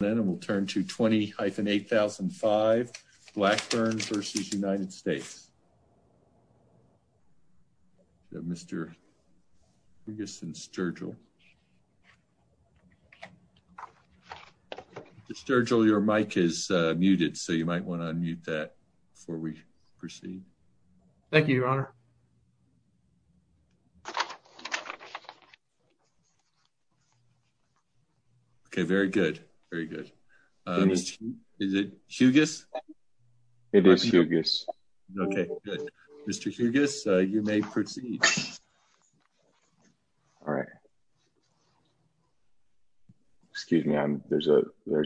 and we'll turn to 20-8005 Blackburn v. United States. Mr. Ferguson Sturgill. Mr. Sturgill, your mic is muted so you might want to unmute that before we proceed. Thank you, Your Honor. Okay, very good. Very good. Is it Hugus? It is Hugus. Okay, good. Mr. Hugus, you may proceed. All right. Excuse me, there's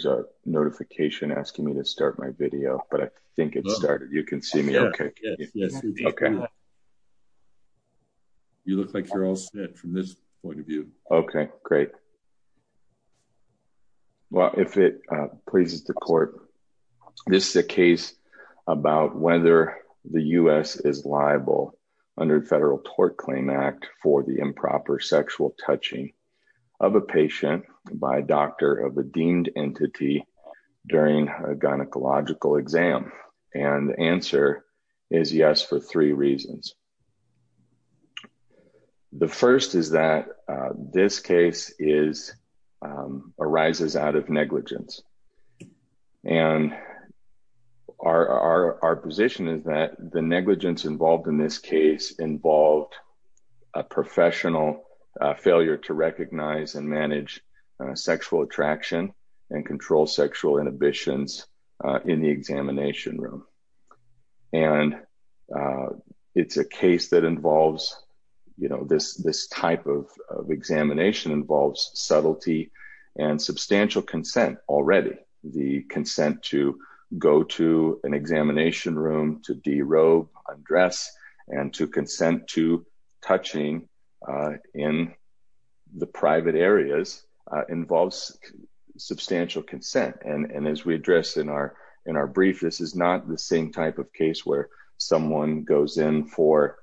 a notification asking me to start my video but I think it looks like you're all set from this point of view. Okay, great. Well, if it pleases the court, this is a case about whether the U.S. is liable under the Federal Tort Claim Act for the improper sexual touching of a patient by a doctor of a deemed entity during a gynecological exam. And the answer is yes for three reasons. The first is that this case arises out of negligence. And our position is that the negligence involved in this case involved a professional failure to recognize and manage sexual attraction and control sexual inhibitions in the examination room. And it's a case that involves, you know, this type of examination involves subtlety and substantial consent already. The consent to go to an examination room to derobe, address, and to consent to touching in the private areas involves substantial consent. And as we address in our brief, this is not the same type of case where someone goes in for,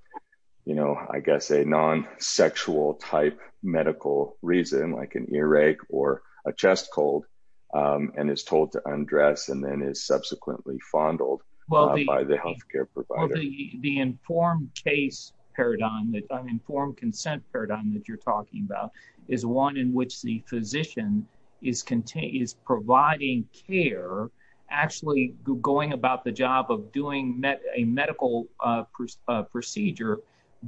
you know, I guess a non-sexual type medical reason, like an earache or a chest cold, and is told to undress and then is subsequently fondled by the health care provider. The informed case paradigm, the informed consent paradigm that you're talking about, is one in which the physician is providing care, actually going about the job of doing a medical procedure,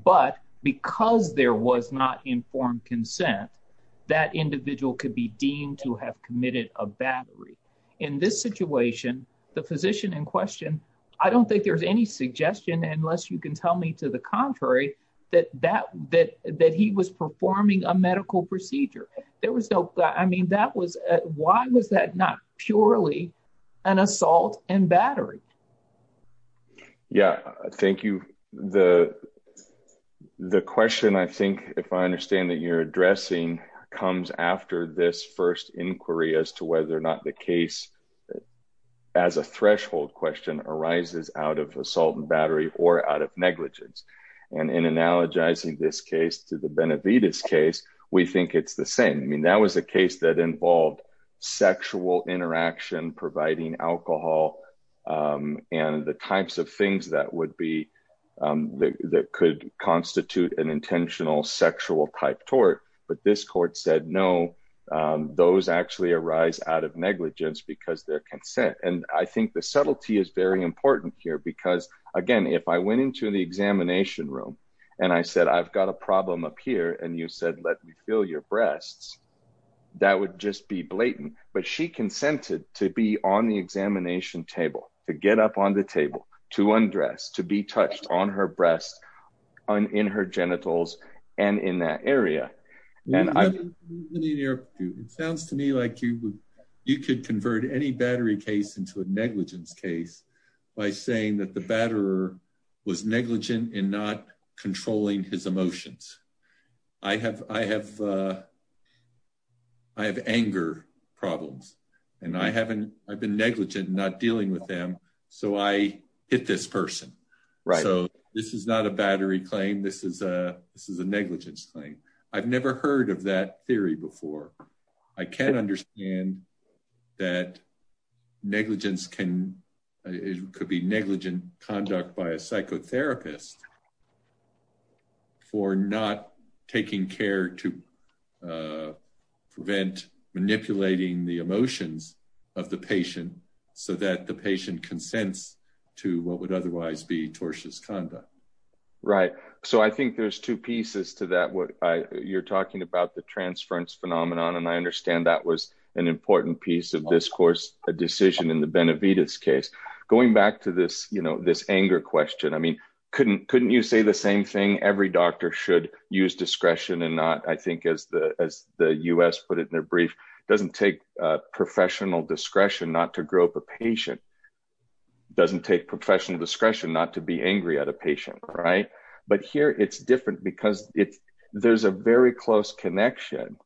but because there was not informed consent, that individual could be deemed to have committed a battery. In this situation, the physician in question, I don't think there's any suggestion unless you can tell me to the procedure. There was no, I mean, that was, why was that not purely an assault and battery? Yeah, thank you. The question, I think, if I understand that you're addressing, comes after this first inquiry as to whether or not the case as a threshold question arises out of assault and battery or out of negligence. And in analogizing this case to the Benavides case, we think it's the same. I mean, that was a case that involved sexual interaction, providing alcohol and the types of things that would be, that could constitute an intentional sexual type tort. But this court said, no, those actually arise out of negligence because they're consent. And I think the subtlety is very important here because, again, if I went into the examination room and I said, I've got a problem up here and you said, let me feel your breasts, that would just be blatant. But she consented to be on the examination table, to get up on the table, to undress, to be touched on her breasts, in her genitals and in that area. It sounds to me like you could convert any battery case into a negligence case by saying that the batterer was negligent in not controlling his emotions. I have, I have, I have anger problems and I haven't, I've been negligent, not dealing with them. So I hit this person. So this is not a battery claim. This is a, this is a negligence claim. I've never heard of that theory before. I can understand that negligence can, it could be negligent conduct by a psychotherapist for not taking care to prevent manipulating the emotions of the patient so that the patient consents to what would otherwise be tortious conduct. Right. So I think there's two pieces to that. What you're talking about, the transference phenomenon, and I understand that was an important piece of this course, a decision in the Benavides case, going back to this, you know, this anger question. I mean, couldn't, couldn't you say the same thing? Every doctor should use discretion and not, I think as the, as the U.S. put it in their brief, doesn't take professional discretion not to grope a patient, doesn't take professional discretion not to be there's a very close connection,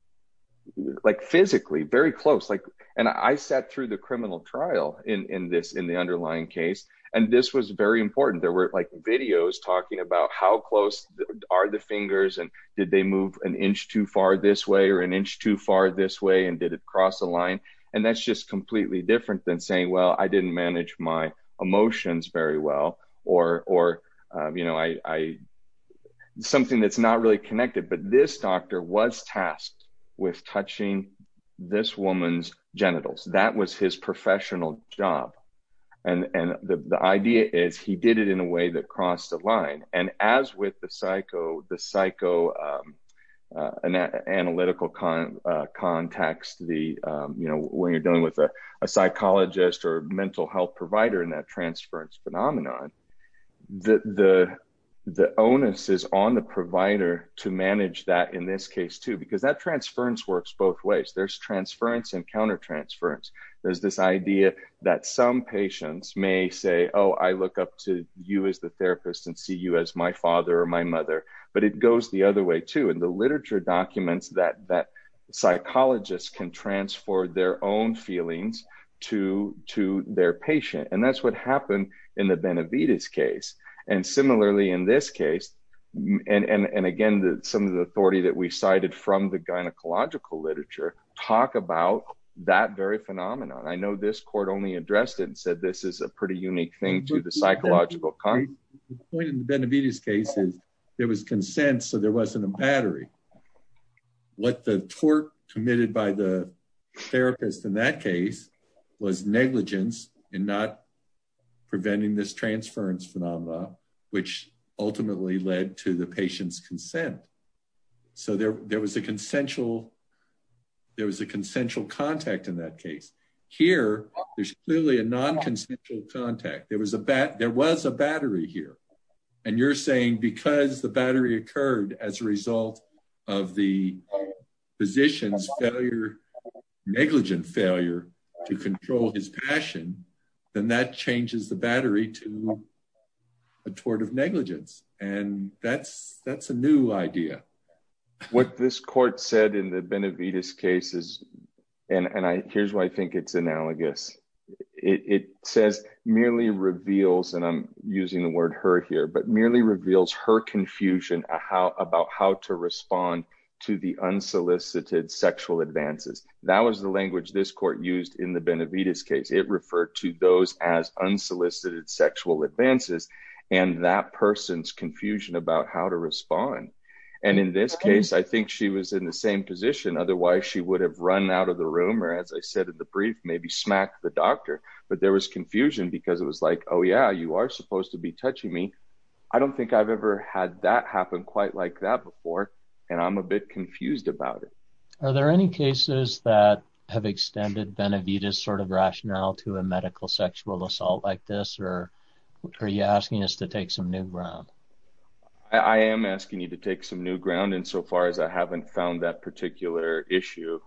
like physically very close. Like, and I sat through the criminal trial in this, in the underlying case. And this was very important. There were like videos talking about how close are the fingers and did they move an inch too far this way or an inch too far this way? And did it cross the line? And that's just completely different than saying, well, I didn't but this doctor was tasked with touching this woman's genitals. That was his professional job. And the idea is he did it in a way that crossed the line. And as with the psycho, the psycho analytical context, the, you know, when you're dealing with a psychologist or mental health provider in that transference phenomenon, the, the, the onus is on the provider to manage that in this case too, because that transference works both ways. There's transference and counter transference. There's this idea that some patients may say, oh, I look up to you as the therapist and see you as my father or my mother, but it goes the other way too. And the literature documents that, that psychologists can transfer their own feelings to, to their patient. And that's what happened in the Benavides case. And similarly in this case, and, and, and again, some of the authority that we cited from the gynecological literature talk about that very phenomenon. I know this court only addressed it and said, this is a pretty unique thing to the psychological point in the Benavides cases, there was consent. So there wasn't a battery. What the tort committed by the therapist in that case was negligence and not preventing this transference phenomena, which ultimately led to the patient's consent. So there, there was a consensual, there was a consensual contact in that case here. There's clearly a non-consensual contact. There was a bat, there was a battery here. And you're saying because the battery occurred as a result of the physician's failure, negligent failure to control his passion, then that changes the battery to a tort of negligence. And that's, that's a new idea. What this court said in the Benavides case is, and I, here's why I think it's analogous. It says merely reveals, and I'm using the word her here, but merely reveals her confusion about how to respond to the unsolicited sexual advances. That was the language this court used in the Benavides case. It referred to those as unsolicited sexual advances and that person's response. And in this case, I think she was in the same position. Otherwise she would have run out of the room, or as I said in the brief, maybe smack the doctor. But there was confusion because it was like, oh yeah, you are supposed to be touching me. I don't think I've ever had that happen quite like that before. And I'm a bit confused about it. Are there any cases that have extended Benavides sort of rationale to a medical sexual assault like this, or are you asking us to take some new ground? I am asking you to take some new ground insofar as I haven't found that particular issue,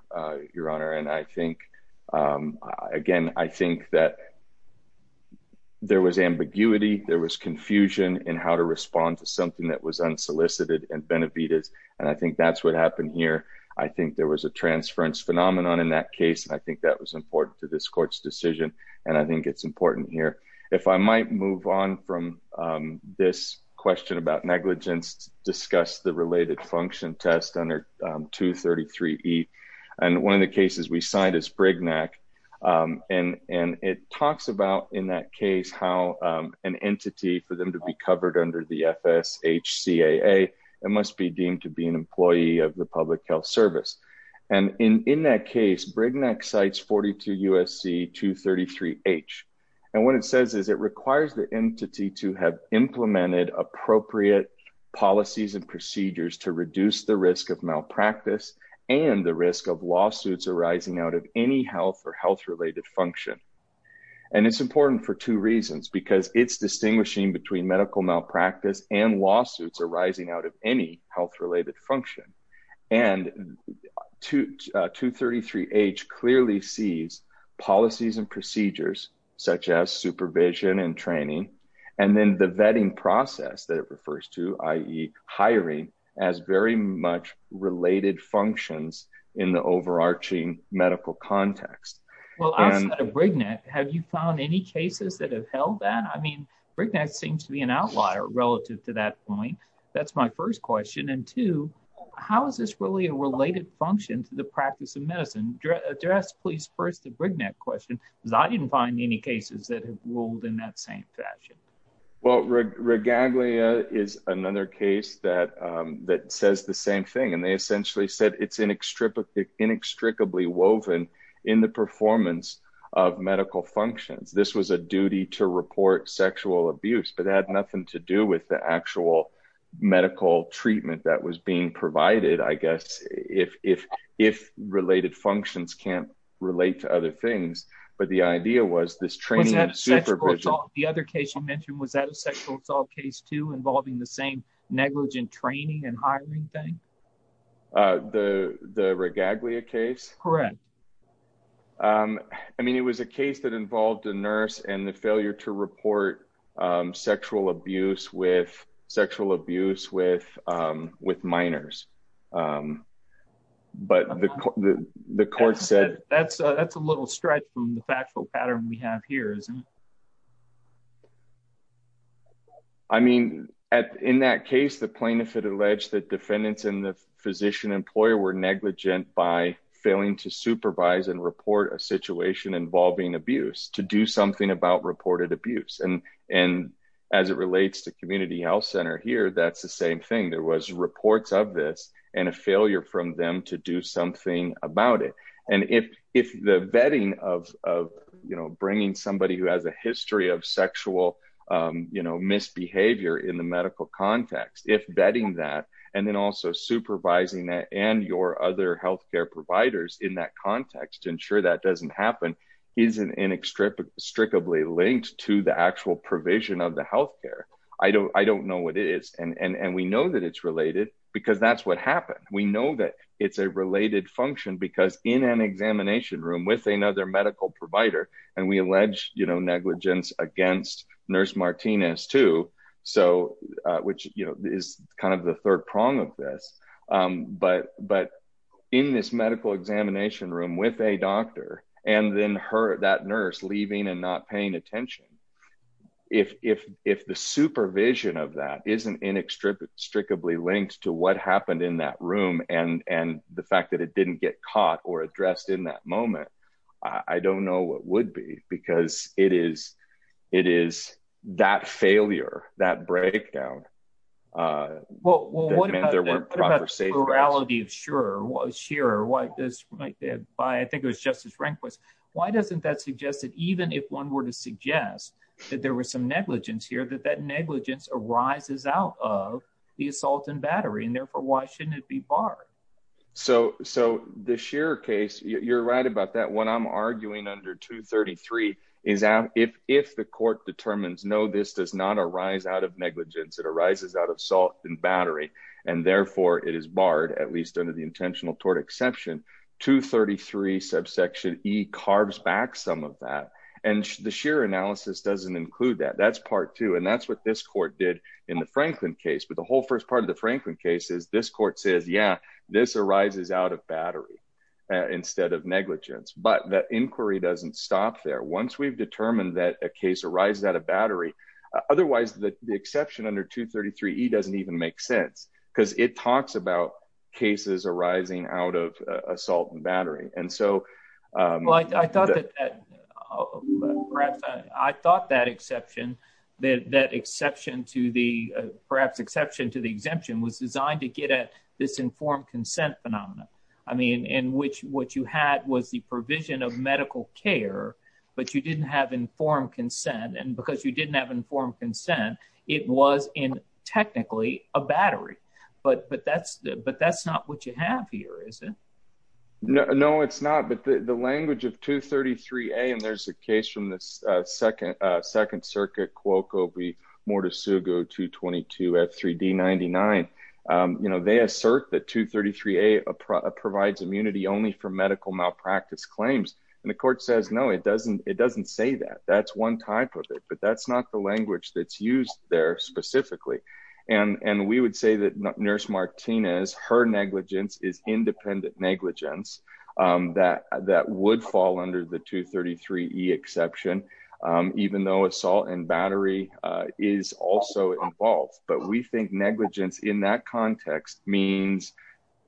your honor. And I think, again, I think that there was ambiguity, there was confusion in how to respond to something that was unsolicited in Benavides. And I think that's what happened here. I think there was a transference phenomenon in that case. And I think that was important to this court's decision. And I think it's important here. If I might move on from this question about negligence to discuss the related function test under 233E. And one of the cases we signed is Brignac. And it talks about in that case how an entity for them to be covered under the FSHCAA, it must be deemed to be an employee of the public health service. And in that case, Brignac cites 42 USC 233H. And what it says is it requires the entity to have implemented appropriate policies and procedures to reduce the risk of malpractice and the risk of lawsuits arising out of any health or health-related function. And it's important for two reasons, because it's distinguishing between medical malpractice and lawsuits arising out of any health-related function. And 233H clearly sees policies and procedures, such as supervision and training, and then the vetting process that it refers to, i.e. hiring, as very much related functions in the overarching medical context. Well, outside of Brignac, have you found any cases that have held that? I mean, Brignac seems to be an outlier relative to that point. That's my first question. And two, how is this really a related function to the practice of medicine? To ask please first the Brignac question, because I didn't find any cases that have ruled in that same fashion. Well, Regaglia is another case that says the same thing. And they essentially said it's inextricably woven in the performance of medical functions. This was a duty to report sexual abuse, but it had nothing to do with the actual medical treatment that was being provided, I guess, if related functions can't relate to other things. But the idea was this training and supervision. The other case you mentioned, was that a sexual assault case too, involving the same negligent training and hiring thing? The Regaglia case? Correct. I mean, it was a case that involved a nurse and the failure to report sexual abuse with minors. But the court said... That's a little stretch from the factual pattern we have here, isn't it? I mean, in that case, the plaintiff had alleged that defendants and the physician employer were reported abuse. And as it relates to Community Health Center here, that's the same thing. There was reports of this and a failure from them to do something about it. And if the vetting of bringing somebody who has a history of sexual misbehavior in the medical context, if vetting that, and then also supervising that and your other healthcare providers in that context to ensure that doesn't happen, isn't inextricably linked to the actual provision of the healthcare. I don't know what it is. And we know that it's related, because that's what happened. We know that it's a related function, because in an examination room with another medical provider, and we allege negligence against Nurse Martinez too, which is kind of the third prong of this. But in this and then that nurse leaving and not paying attention, if the supervision of that isn't inextricably linked to what happened in that room, and the fact that it didn't get caught or addressed in that moment, I don't know what would be because it is that failure, that breakdown. Well, what about the plurality of sure, what is sure, why does, I think it was Justice Rehnquist, why doesn't that suggest that even if one were to suggest that there were some negligence here, that that negligence arises out of the assault and battery, and therefore, why shouldn't it be barred? So the Scherer case, you're right about that. What I'm arguing under 233 is that if the court determines no, this does not arise out of negligence, it arises out of assault and battery, and therefore it is barred, at least under the intentional tort exception, 233 subsection E carves back some of that. And the Scherer analysis doesn't include that. That's part two. And that's what this court did in the Franklin case. But the whole first part of the Franklin case is this court says, yeah, this arises out of battery instead of negligence. But that inquiry doesn't stop there. Once we've determined that a case arises out of battery. Otherwise, the exception under 233 E doesn't even make sense, because it talks about cases arising out of assault and battery. And so I thought that perhaps I thought that exception, that exception to the perhaps exception to the exemption was designed to get at this informed consent phenomenon. I mean, in which what you had was the provision of medical care, but you didn't have informed consent. And because you didn't have informed consent, it was in technically a battery. But But that's, but that's not what you have here, is it? No, it's not. But the language of 233 A, and there's a case from this second, second circuit quote, Kobe, more to Sugo to 22 at 3d 99. You know, they assert that 233 provides immunity only for medical malpractice claims. And the court says, No, it doesn't. It doesn't say that that's one type of it. But that's not the language that's used there specifically. And and we would say that nurse Martinez, her negligence is independent negligence, that that would fall under the 233 exception, even though assault and battery is also involved. But we think negligence in that context means,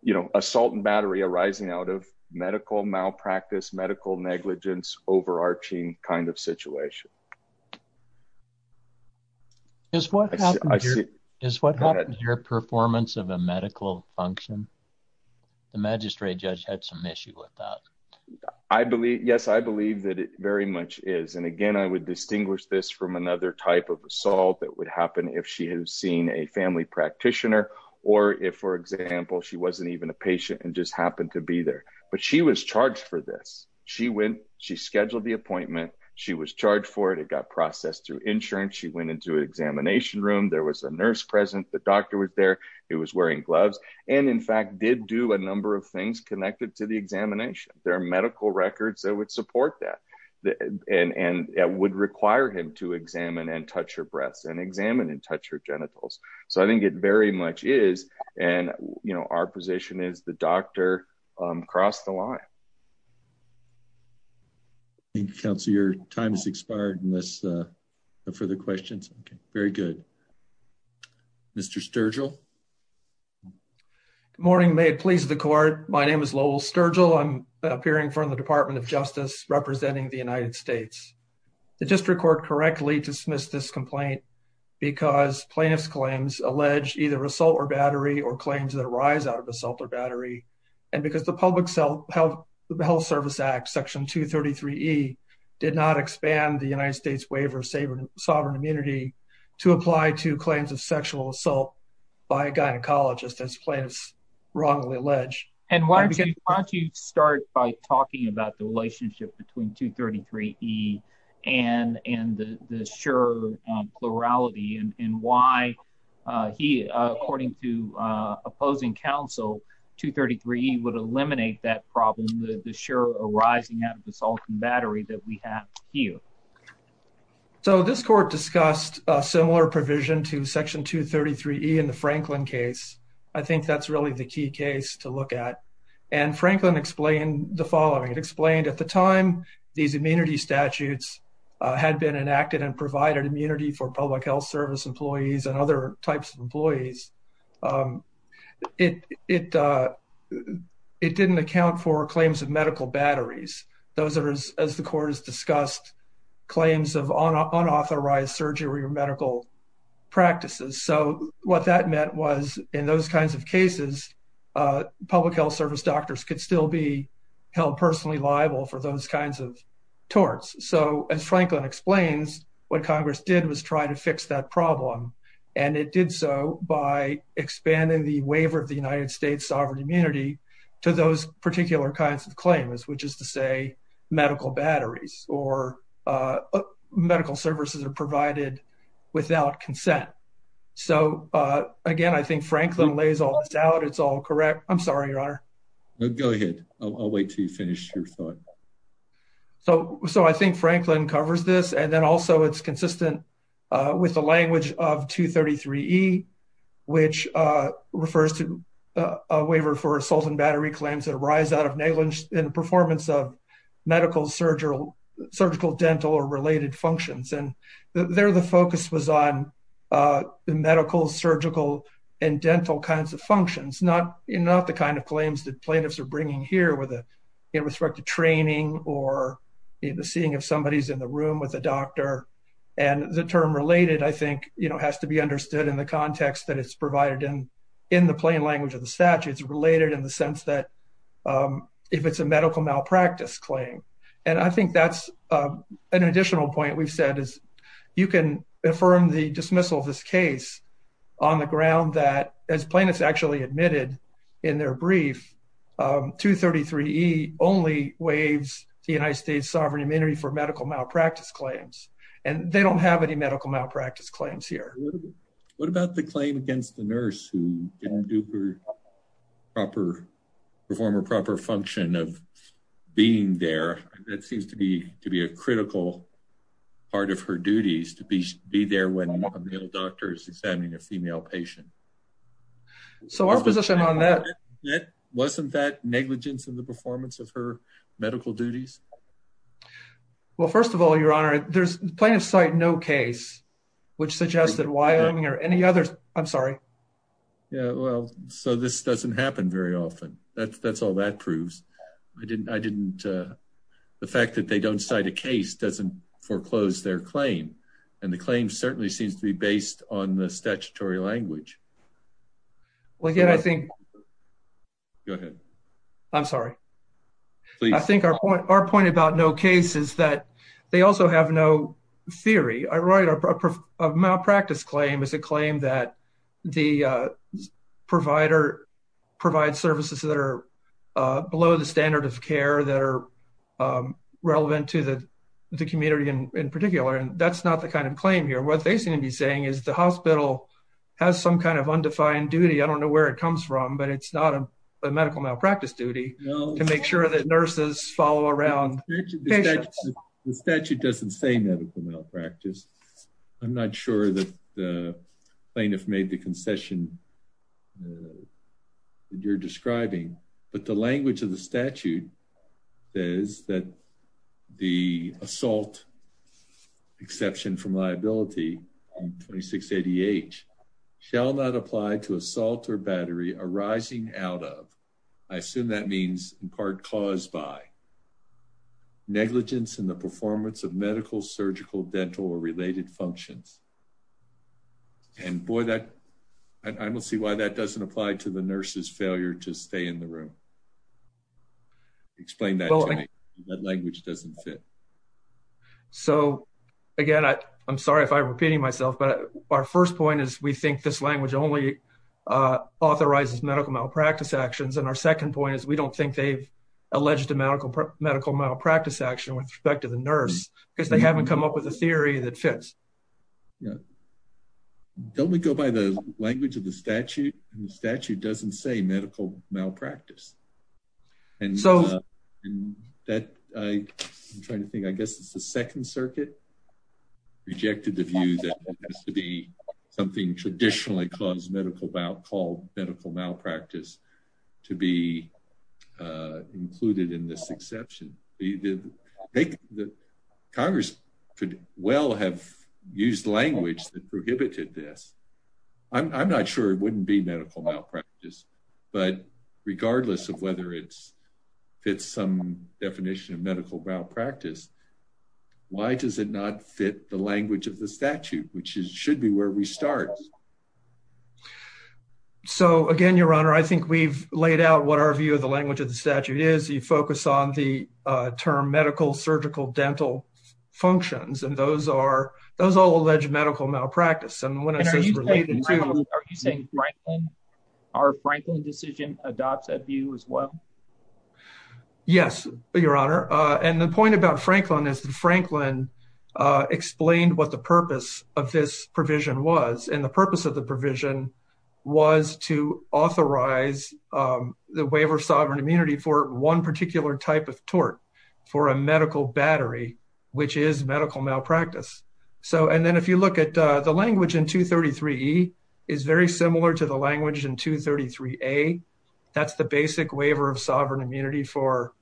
you know, assault and battery arising out of medical malpractice, medical negligence, overarching kind of situation. Is what is what your performance of a medical function? The magistrate judge had some issue with that. I believe Yes, I believe that it very much is. And again, I would distinguish this from another type of assault that would happen if she had seen a family practitioner, or if, for example, she wasn't even a patient and just happened to be there. But she was charged for this. She went, she scheduled the appointment, she was charged for it, it got processed through insurance, she went into examination room, there was a nurse present, the doctor was there, he was wearing gloves, and in fact, did do a number of things connected to the examination, there are medical records that would support that. And it would require him to examine and touch her breasts and examine and touch her genitals. So I think it very much is. And, you know, our position is the doctor crossed the line. Council, your time is expired. Unless further questions. Okay, very good. Mr. Sturgill. Good morning, may it please the court. My name is Lowell Sturgill. I'm appearing from the Department of Justice representing the United States. The district court correctly dismissed this complaint, because plaintiff's claims allege either assault or battery or claims that arise out of assault or battery. And because the Public Health Health Service Act section 233. He did not expand the United States waiver of sovereign immunity to apply to claims of sexual assault by a gynecologist as plaintiffs wrongly allege. And why don't you start by talking about the relationship between 233 E and and the sure plurality and why he according to opposing Council to 33 would eliminate that problem. The share arising out of assault and battery that we have here. So this court discussed similar provision to Section 233 E in the Franklin case. I think that's really the key case to look at. And Franklin explained the following. It explained at the time, these immunity statutes had been enacted and provided immunity for Public Health employees and other types of employees. It didn't account for claims of medical batteries. Those are, as the court has discussed, claims of unauthorized surgery or medical practices. So what that meant was in those kinds of cases, public health service doctors could still be held personally liable for those kinds of torts. So as Franklin explains, what Congress did was try to fix that problem. And it did so by expanding the waiver of the United States sovereign immunity to those particular kinds of claims, which is to say, medical batteries or medical services are provided without consent. So again, I think Franklin lays all this out. It's all correct. I'm sorry, your honor. Go ahead. I'll wait to finish your thought. So I think Franklin covers this. And then also it's consistent with the language of 233 E, which refers to a waiver for assault and battery claims that arise out of negligence in performance of medical, surgical, dental, or related functions. And there, the focus was on the medical, surgical, and dental kinds of functions, not the kind of claims that plaintiffs are bringing here with a, in respect to training or the seeing if somebody's in the room with a doctor and the term related, I think, you know, has to be understood in the context that it's provided in, in the plain language of the statutes related in the sense that if it's a medical malpractice claim. And I think that's an additional point we've said is you can affirm the dismissal of this case on the ground that as plaintiffs actually admitted in their brief, 233 E only waives the United States sovereign immunity for medical malpractice claims. And they don't have any medical malpractice claims here. What about the claim against the nurse who didn't do her proper perform a proper function of being there? That seems to be, to be a critical part of her duties to be, be there when a male doctor is examining a female patient. So our position on that, wasn't that negligence in the performance of her medical duties? Well, first of all, your honor, there's plaintiffs cite no case, which suggested Wyoming or any others. I'm sorry. Yeah. Well, so this doesn't happen very often. That's, that's all that proves. I didn't, I didn't, uh, the fact that they don't cite a case doesn't foreclose their claim. And the claim certainly seems to be based on the statutory language. Well, again, I think, go ahead. I'm sorry. I think our point, our point about no cases that they also have no theory. I write a, a, a malpractice claim is a claim that the provider provide services that are below the standard of care that are relevant to the community in particular. And that's not the kind of claim here. What they seem to be saying is the hospital has some kind of undefined duty. I don't know where it comes from, but it's not a medical malpractice duty to make sure that nurses follow around. The statute doesn't say medical malpractice. I'm not sure that the plaintiff made the concession that you're describing, but the language of the statute says that the assault exception from liability in 26 ADH shall not apply to assault or battery arising out of, I assume that means in part caused by negligence in the performance of medical, surgical, dental, or related functions. And boy, that I don't see why that doesn't apply to the nurse's failure to stay in the room. Explain that language doesn't fit. So again, I, I'm sorry if I repeating myself, but our first point is we think this language only authorizes medical malpractice actions. And our second point is we don't think they've alleged a medical malpractice action with respect to the nurse because they haven't come up with a theory that fits. Yeah. Don't we go by the language of the statute and the statute doesn't say medical malpractice. And so that I'm trying to think, I guess it's the second circuit rejected the view that it has to be something traditionally caused medical about called medical malpractice to be included in this exception. Congress could well have used language that prohibited this. I'm not sure it wouldn't be medical malpractice, but regardless of whether it's fits some definition of medical malpractice, why does it not fit the language of the statute, which is, should be where we start. So again, your honor, I think we've laid out what our view of the language of the statute is. You focus on the term, medical, surgical, dental functions, and those are, those all alleged medical malpractice. And when I say, are you saying our Franklin decision adopts that view as well? Yes, your honor. And the point about Franklin is that Franklin explained what the purpose of this provision was. And the purpose of the provision was to authorize the waiver of sovereign immunity for one particular type of tort for a medical battery, which is medical malpractice. So, and then if you look at the language in 233E is very similar to the language in 233A. That's the basic waiver of sovereign immunity for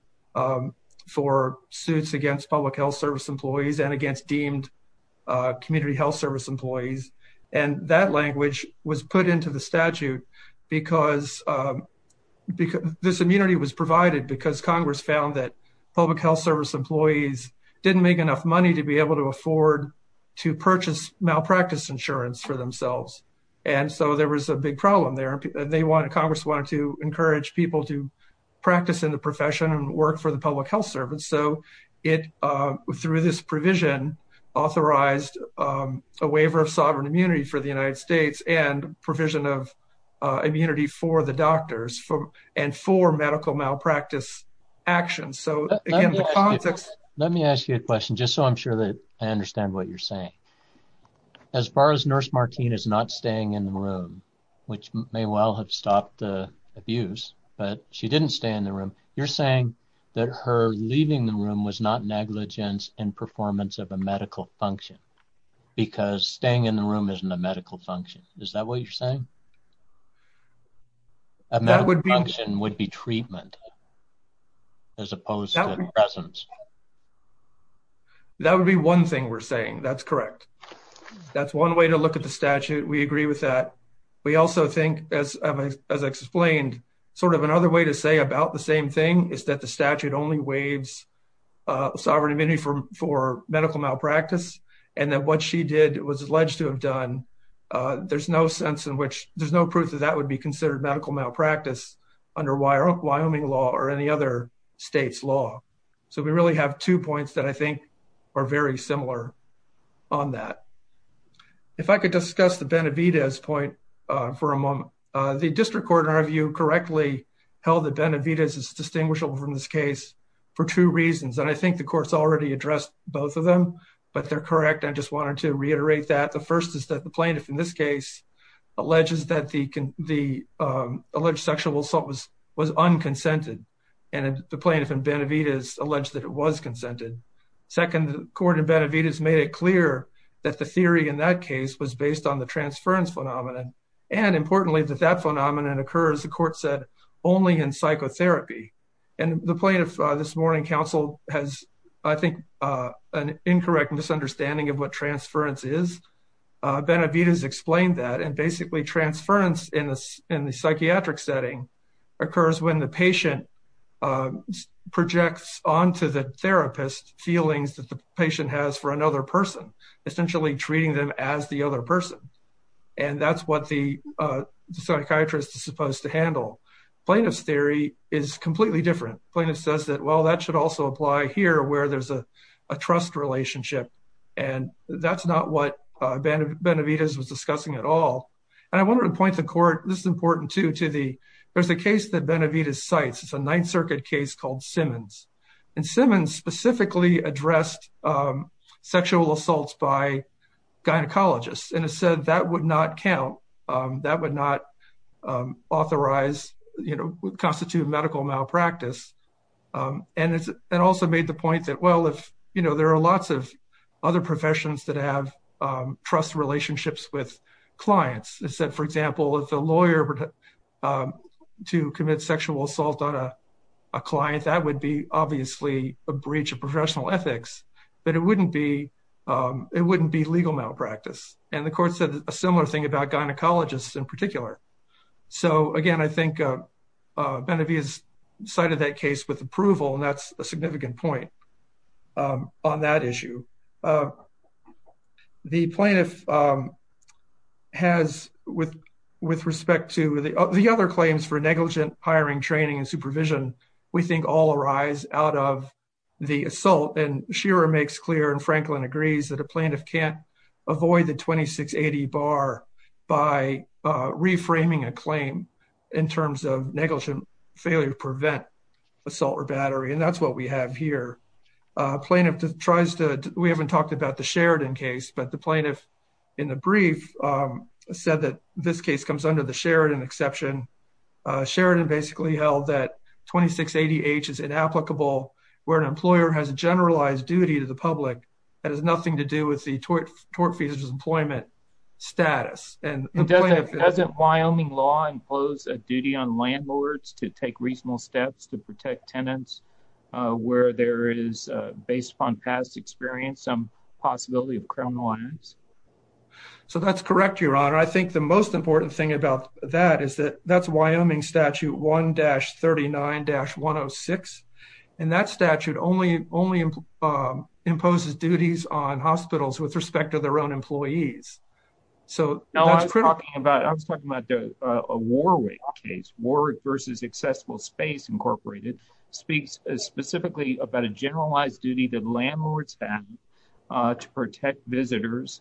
suits against public health service employees and against deemed community health service employees. And that language was put into the statute because this immunity was provided because Congress found that public health service employees didn't make enough money to be able to afford to purchase malpractice insurance for themselves. And so there was a big problem there. And they wanted, Congress wanted to encourage people to practice in the profession and work for the public health service. So it, through this provision, authorized a waiver of sovereign immunity for the United States and provision of immunity for the doctors and for medical malpractice actions. So again, the context. Let me ask you a question, just so I'm sure that I understand what you're saying. As far as nurse Martine is not staying in the room, which may well have stopped the abuse, but she didn't stay in the room. You're saying that her leaving the room was not negligence and performance of a medical function because staying in the room isn't a medical function. Is that what you're saying? A medical function would be treatment as opposed to presence. That would be one thing we're saying. That's correct. That's one way to look at the statute. We agree with that. We also think as, as I explained, sort of another way to say about the same thing is that the statute only waives a sovereign immunity for, for medical malpractice. And that what she did was alleged to have done. There's no sense in which there's no proof that that would be considered medical malpractice under Wyoming law or any other state's law. So we really have two points that I think are very similar on that. If I could discuss the Benavides point for a moment, the district court in our view correctly held that Benavides is distinguishable from this case for two reasons. And I think the I just wanted to reiterate that the first is that the plaintiff in this case alleges that the, the alleged sexual assault was, was unconsented. And the plaintiff in Benavides alleged that it was consented. Second court in Benavides made it clear that the theory in that case was based on the transference phenomenon. And importantly, that that phenomenon occurs, the court said only in psychotherapy and the plaintiff this morning council has, I think, an incorrect misunderstanding of what transference is. Benavides explained that, and basically transference in the, in the psychiatric setting occurs when the patient projects onto the therapist feelings that the patient has for another person, essentially treating them as the other person. And that's what the psychiatrist is supposed to handle. Plaintiff's theory is completely different. Plaintiff says that, well, that should also apply here where there's a, a trust relationship. And that's not what Benavides was discussing at all. And I wanted to point the court. This is important too, to the, there's a case that Benavides cites. It's a ninth circuit case called Simmons and Simmons specifically addressed sexual assaults by gynecologists. And it said that would not count that would not authorize, you know, constitute medical malpractice. And it's, it also made the point that, well, if, you know, there are lots of other professions that have trust relationships with clients. It said, for example, if a lawyer were to commit sexual assault on a client, that would be obviously a breach of professional ethics, but it wouldn't be, it wouldn't be legal malpractice. And the court said a similar thing about gynecologists in particular. So again, I think Benavides cited that case with approval, and that's a significant point on that issue. The plaintiff has with, with respect to the other claims for negligent hiring training and supervision, we think all arise out of the assault and Shearer makes clear and Franklin agrees that plaintiff can't avoid the 2680 bar by reframing a claim in terms of negligent failure to prevent assault or battery. And that's what we have here. Plaintiff tries to, we haven't talked about the Sheridan case, but the plaintiff in the brief said that this case comes under the Sheridan exception. Sheridan basically held that 2680H is inapplicable where an employer has generalized duty to the public that has nothing to do with the tort fees, employment status and doesn't Wyoming law and close a duty on landlords to take reasonable steps to protect tenants where there is a based upon past experience, some possibility of criminal honors. So that's correct. Your honor. I think the most important thing about that is that that's Wyoming statute one dash 39 dash 106. And that statute only, only imposes duties on hospitals with respect to their own employees. So I was talking about, I was talking about a Warwick case, Warwick versus accessible space incorporated speaks specifically about a generalized duty that landlords have to protect visitors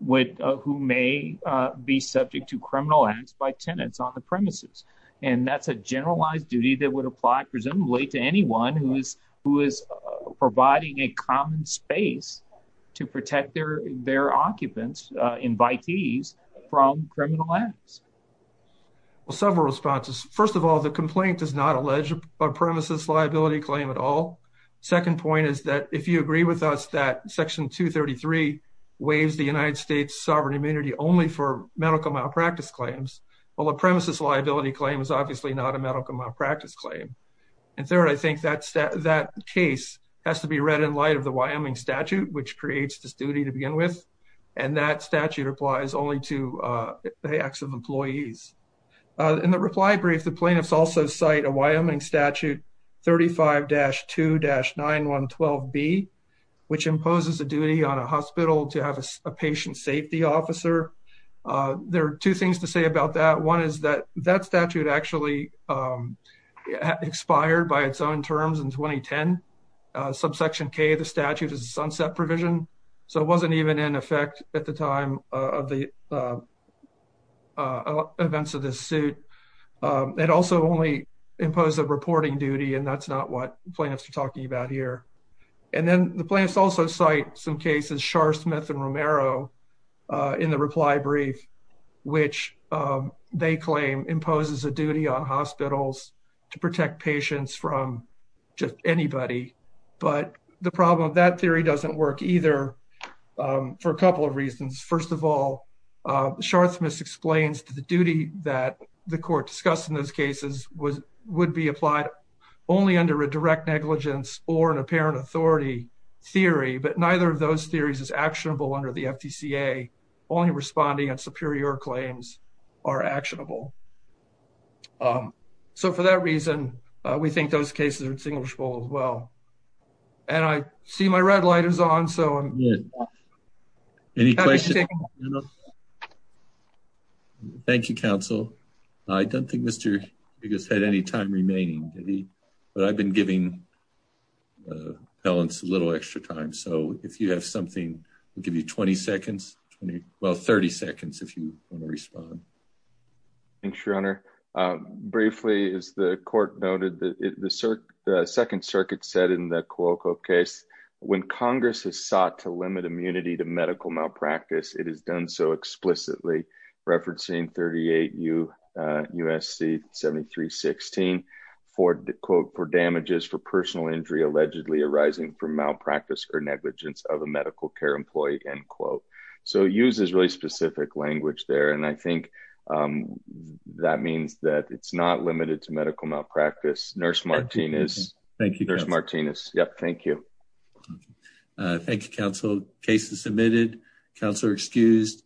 with who may be subject to criminal acts by tenants on the premises. And that's a generalized duty that would apply presumably to anyone who is, who is providing a common space to protect their, their occupants invitees from criminal acts. Well, several responses. First of all, the complaint does not allege a premises liability claim at all. Second point is that if you agree with us that section two 33 waves, the United claims, well, the premises liability claim is obviously not a medical malpractice claim. And third, I think that's that case has to be read in light of the Wyoming statute, which creates this duty to begin with. And that statute applies only to the acts of employees. In the reply brief, the plaintiffs also cite a Wyoming statute 35 dash two dash nine one 12 B, which imposes a duty on a hospital to have a patient safety officer. There are two things to say about that. One is that that statute actually expired by its own terms in 2010 subsection K, the statute is a sunset provision. So it wasn't even in effect at the time of the events of this suit. It also only impose a reporting duty. And that's not what plaintiffs are talking about here. And then the plaintiffs also cite some cases, Char Smith and Romero in the reply brief, which they claim imposes a duty on hospitals to protect patients from just anybody. But the problem of that theory doesn't work either. For a couple of reasons. First of all, Char Smith explains to the duty that the court discussed in his case would be applied only under a direct negligence or an apparent authority theory, but neither of those theories is actionable under the FTCA. Only responding and superior claims are actionable. So for that reason, we think those cases are distinguishable as well. And I see my red light is on. So any questions? No. Thank you, counsel. I don't think Mr. Biggis had any time remaining, but I've been giving balance a little extra time. So if you have something, we'll give you 20 seconds, 20, well, 30 seconds if you want to respond. Thanks, your honor. Briefly, as the court noted, the circuit, the Second Circuit said in the is done so explicitly referencing 38 USC 7316 for quote, for damages for personal injury, allegedly arising from malpractice or negligence of a medical care employee and quote. So use is really specific language there. And I think that means that it's not limited to medical malpractice. Nurse Martinez. Thank you. There's Martinez. Yep. Thank you. Thank you, counsel. Case is submitted. Counselor excused.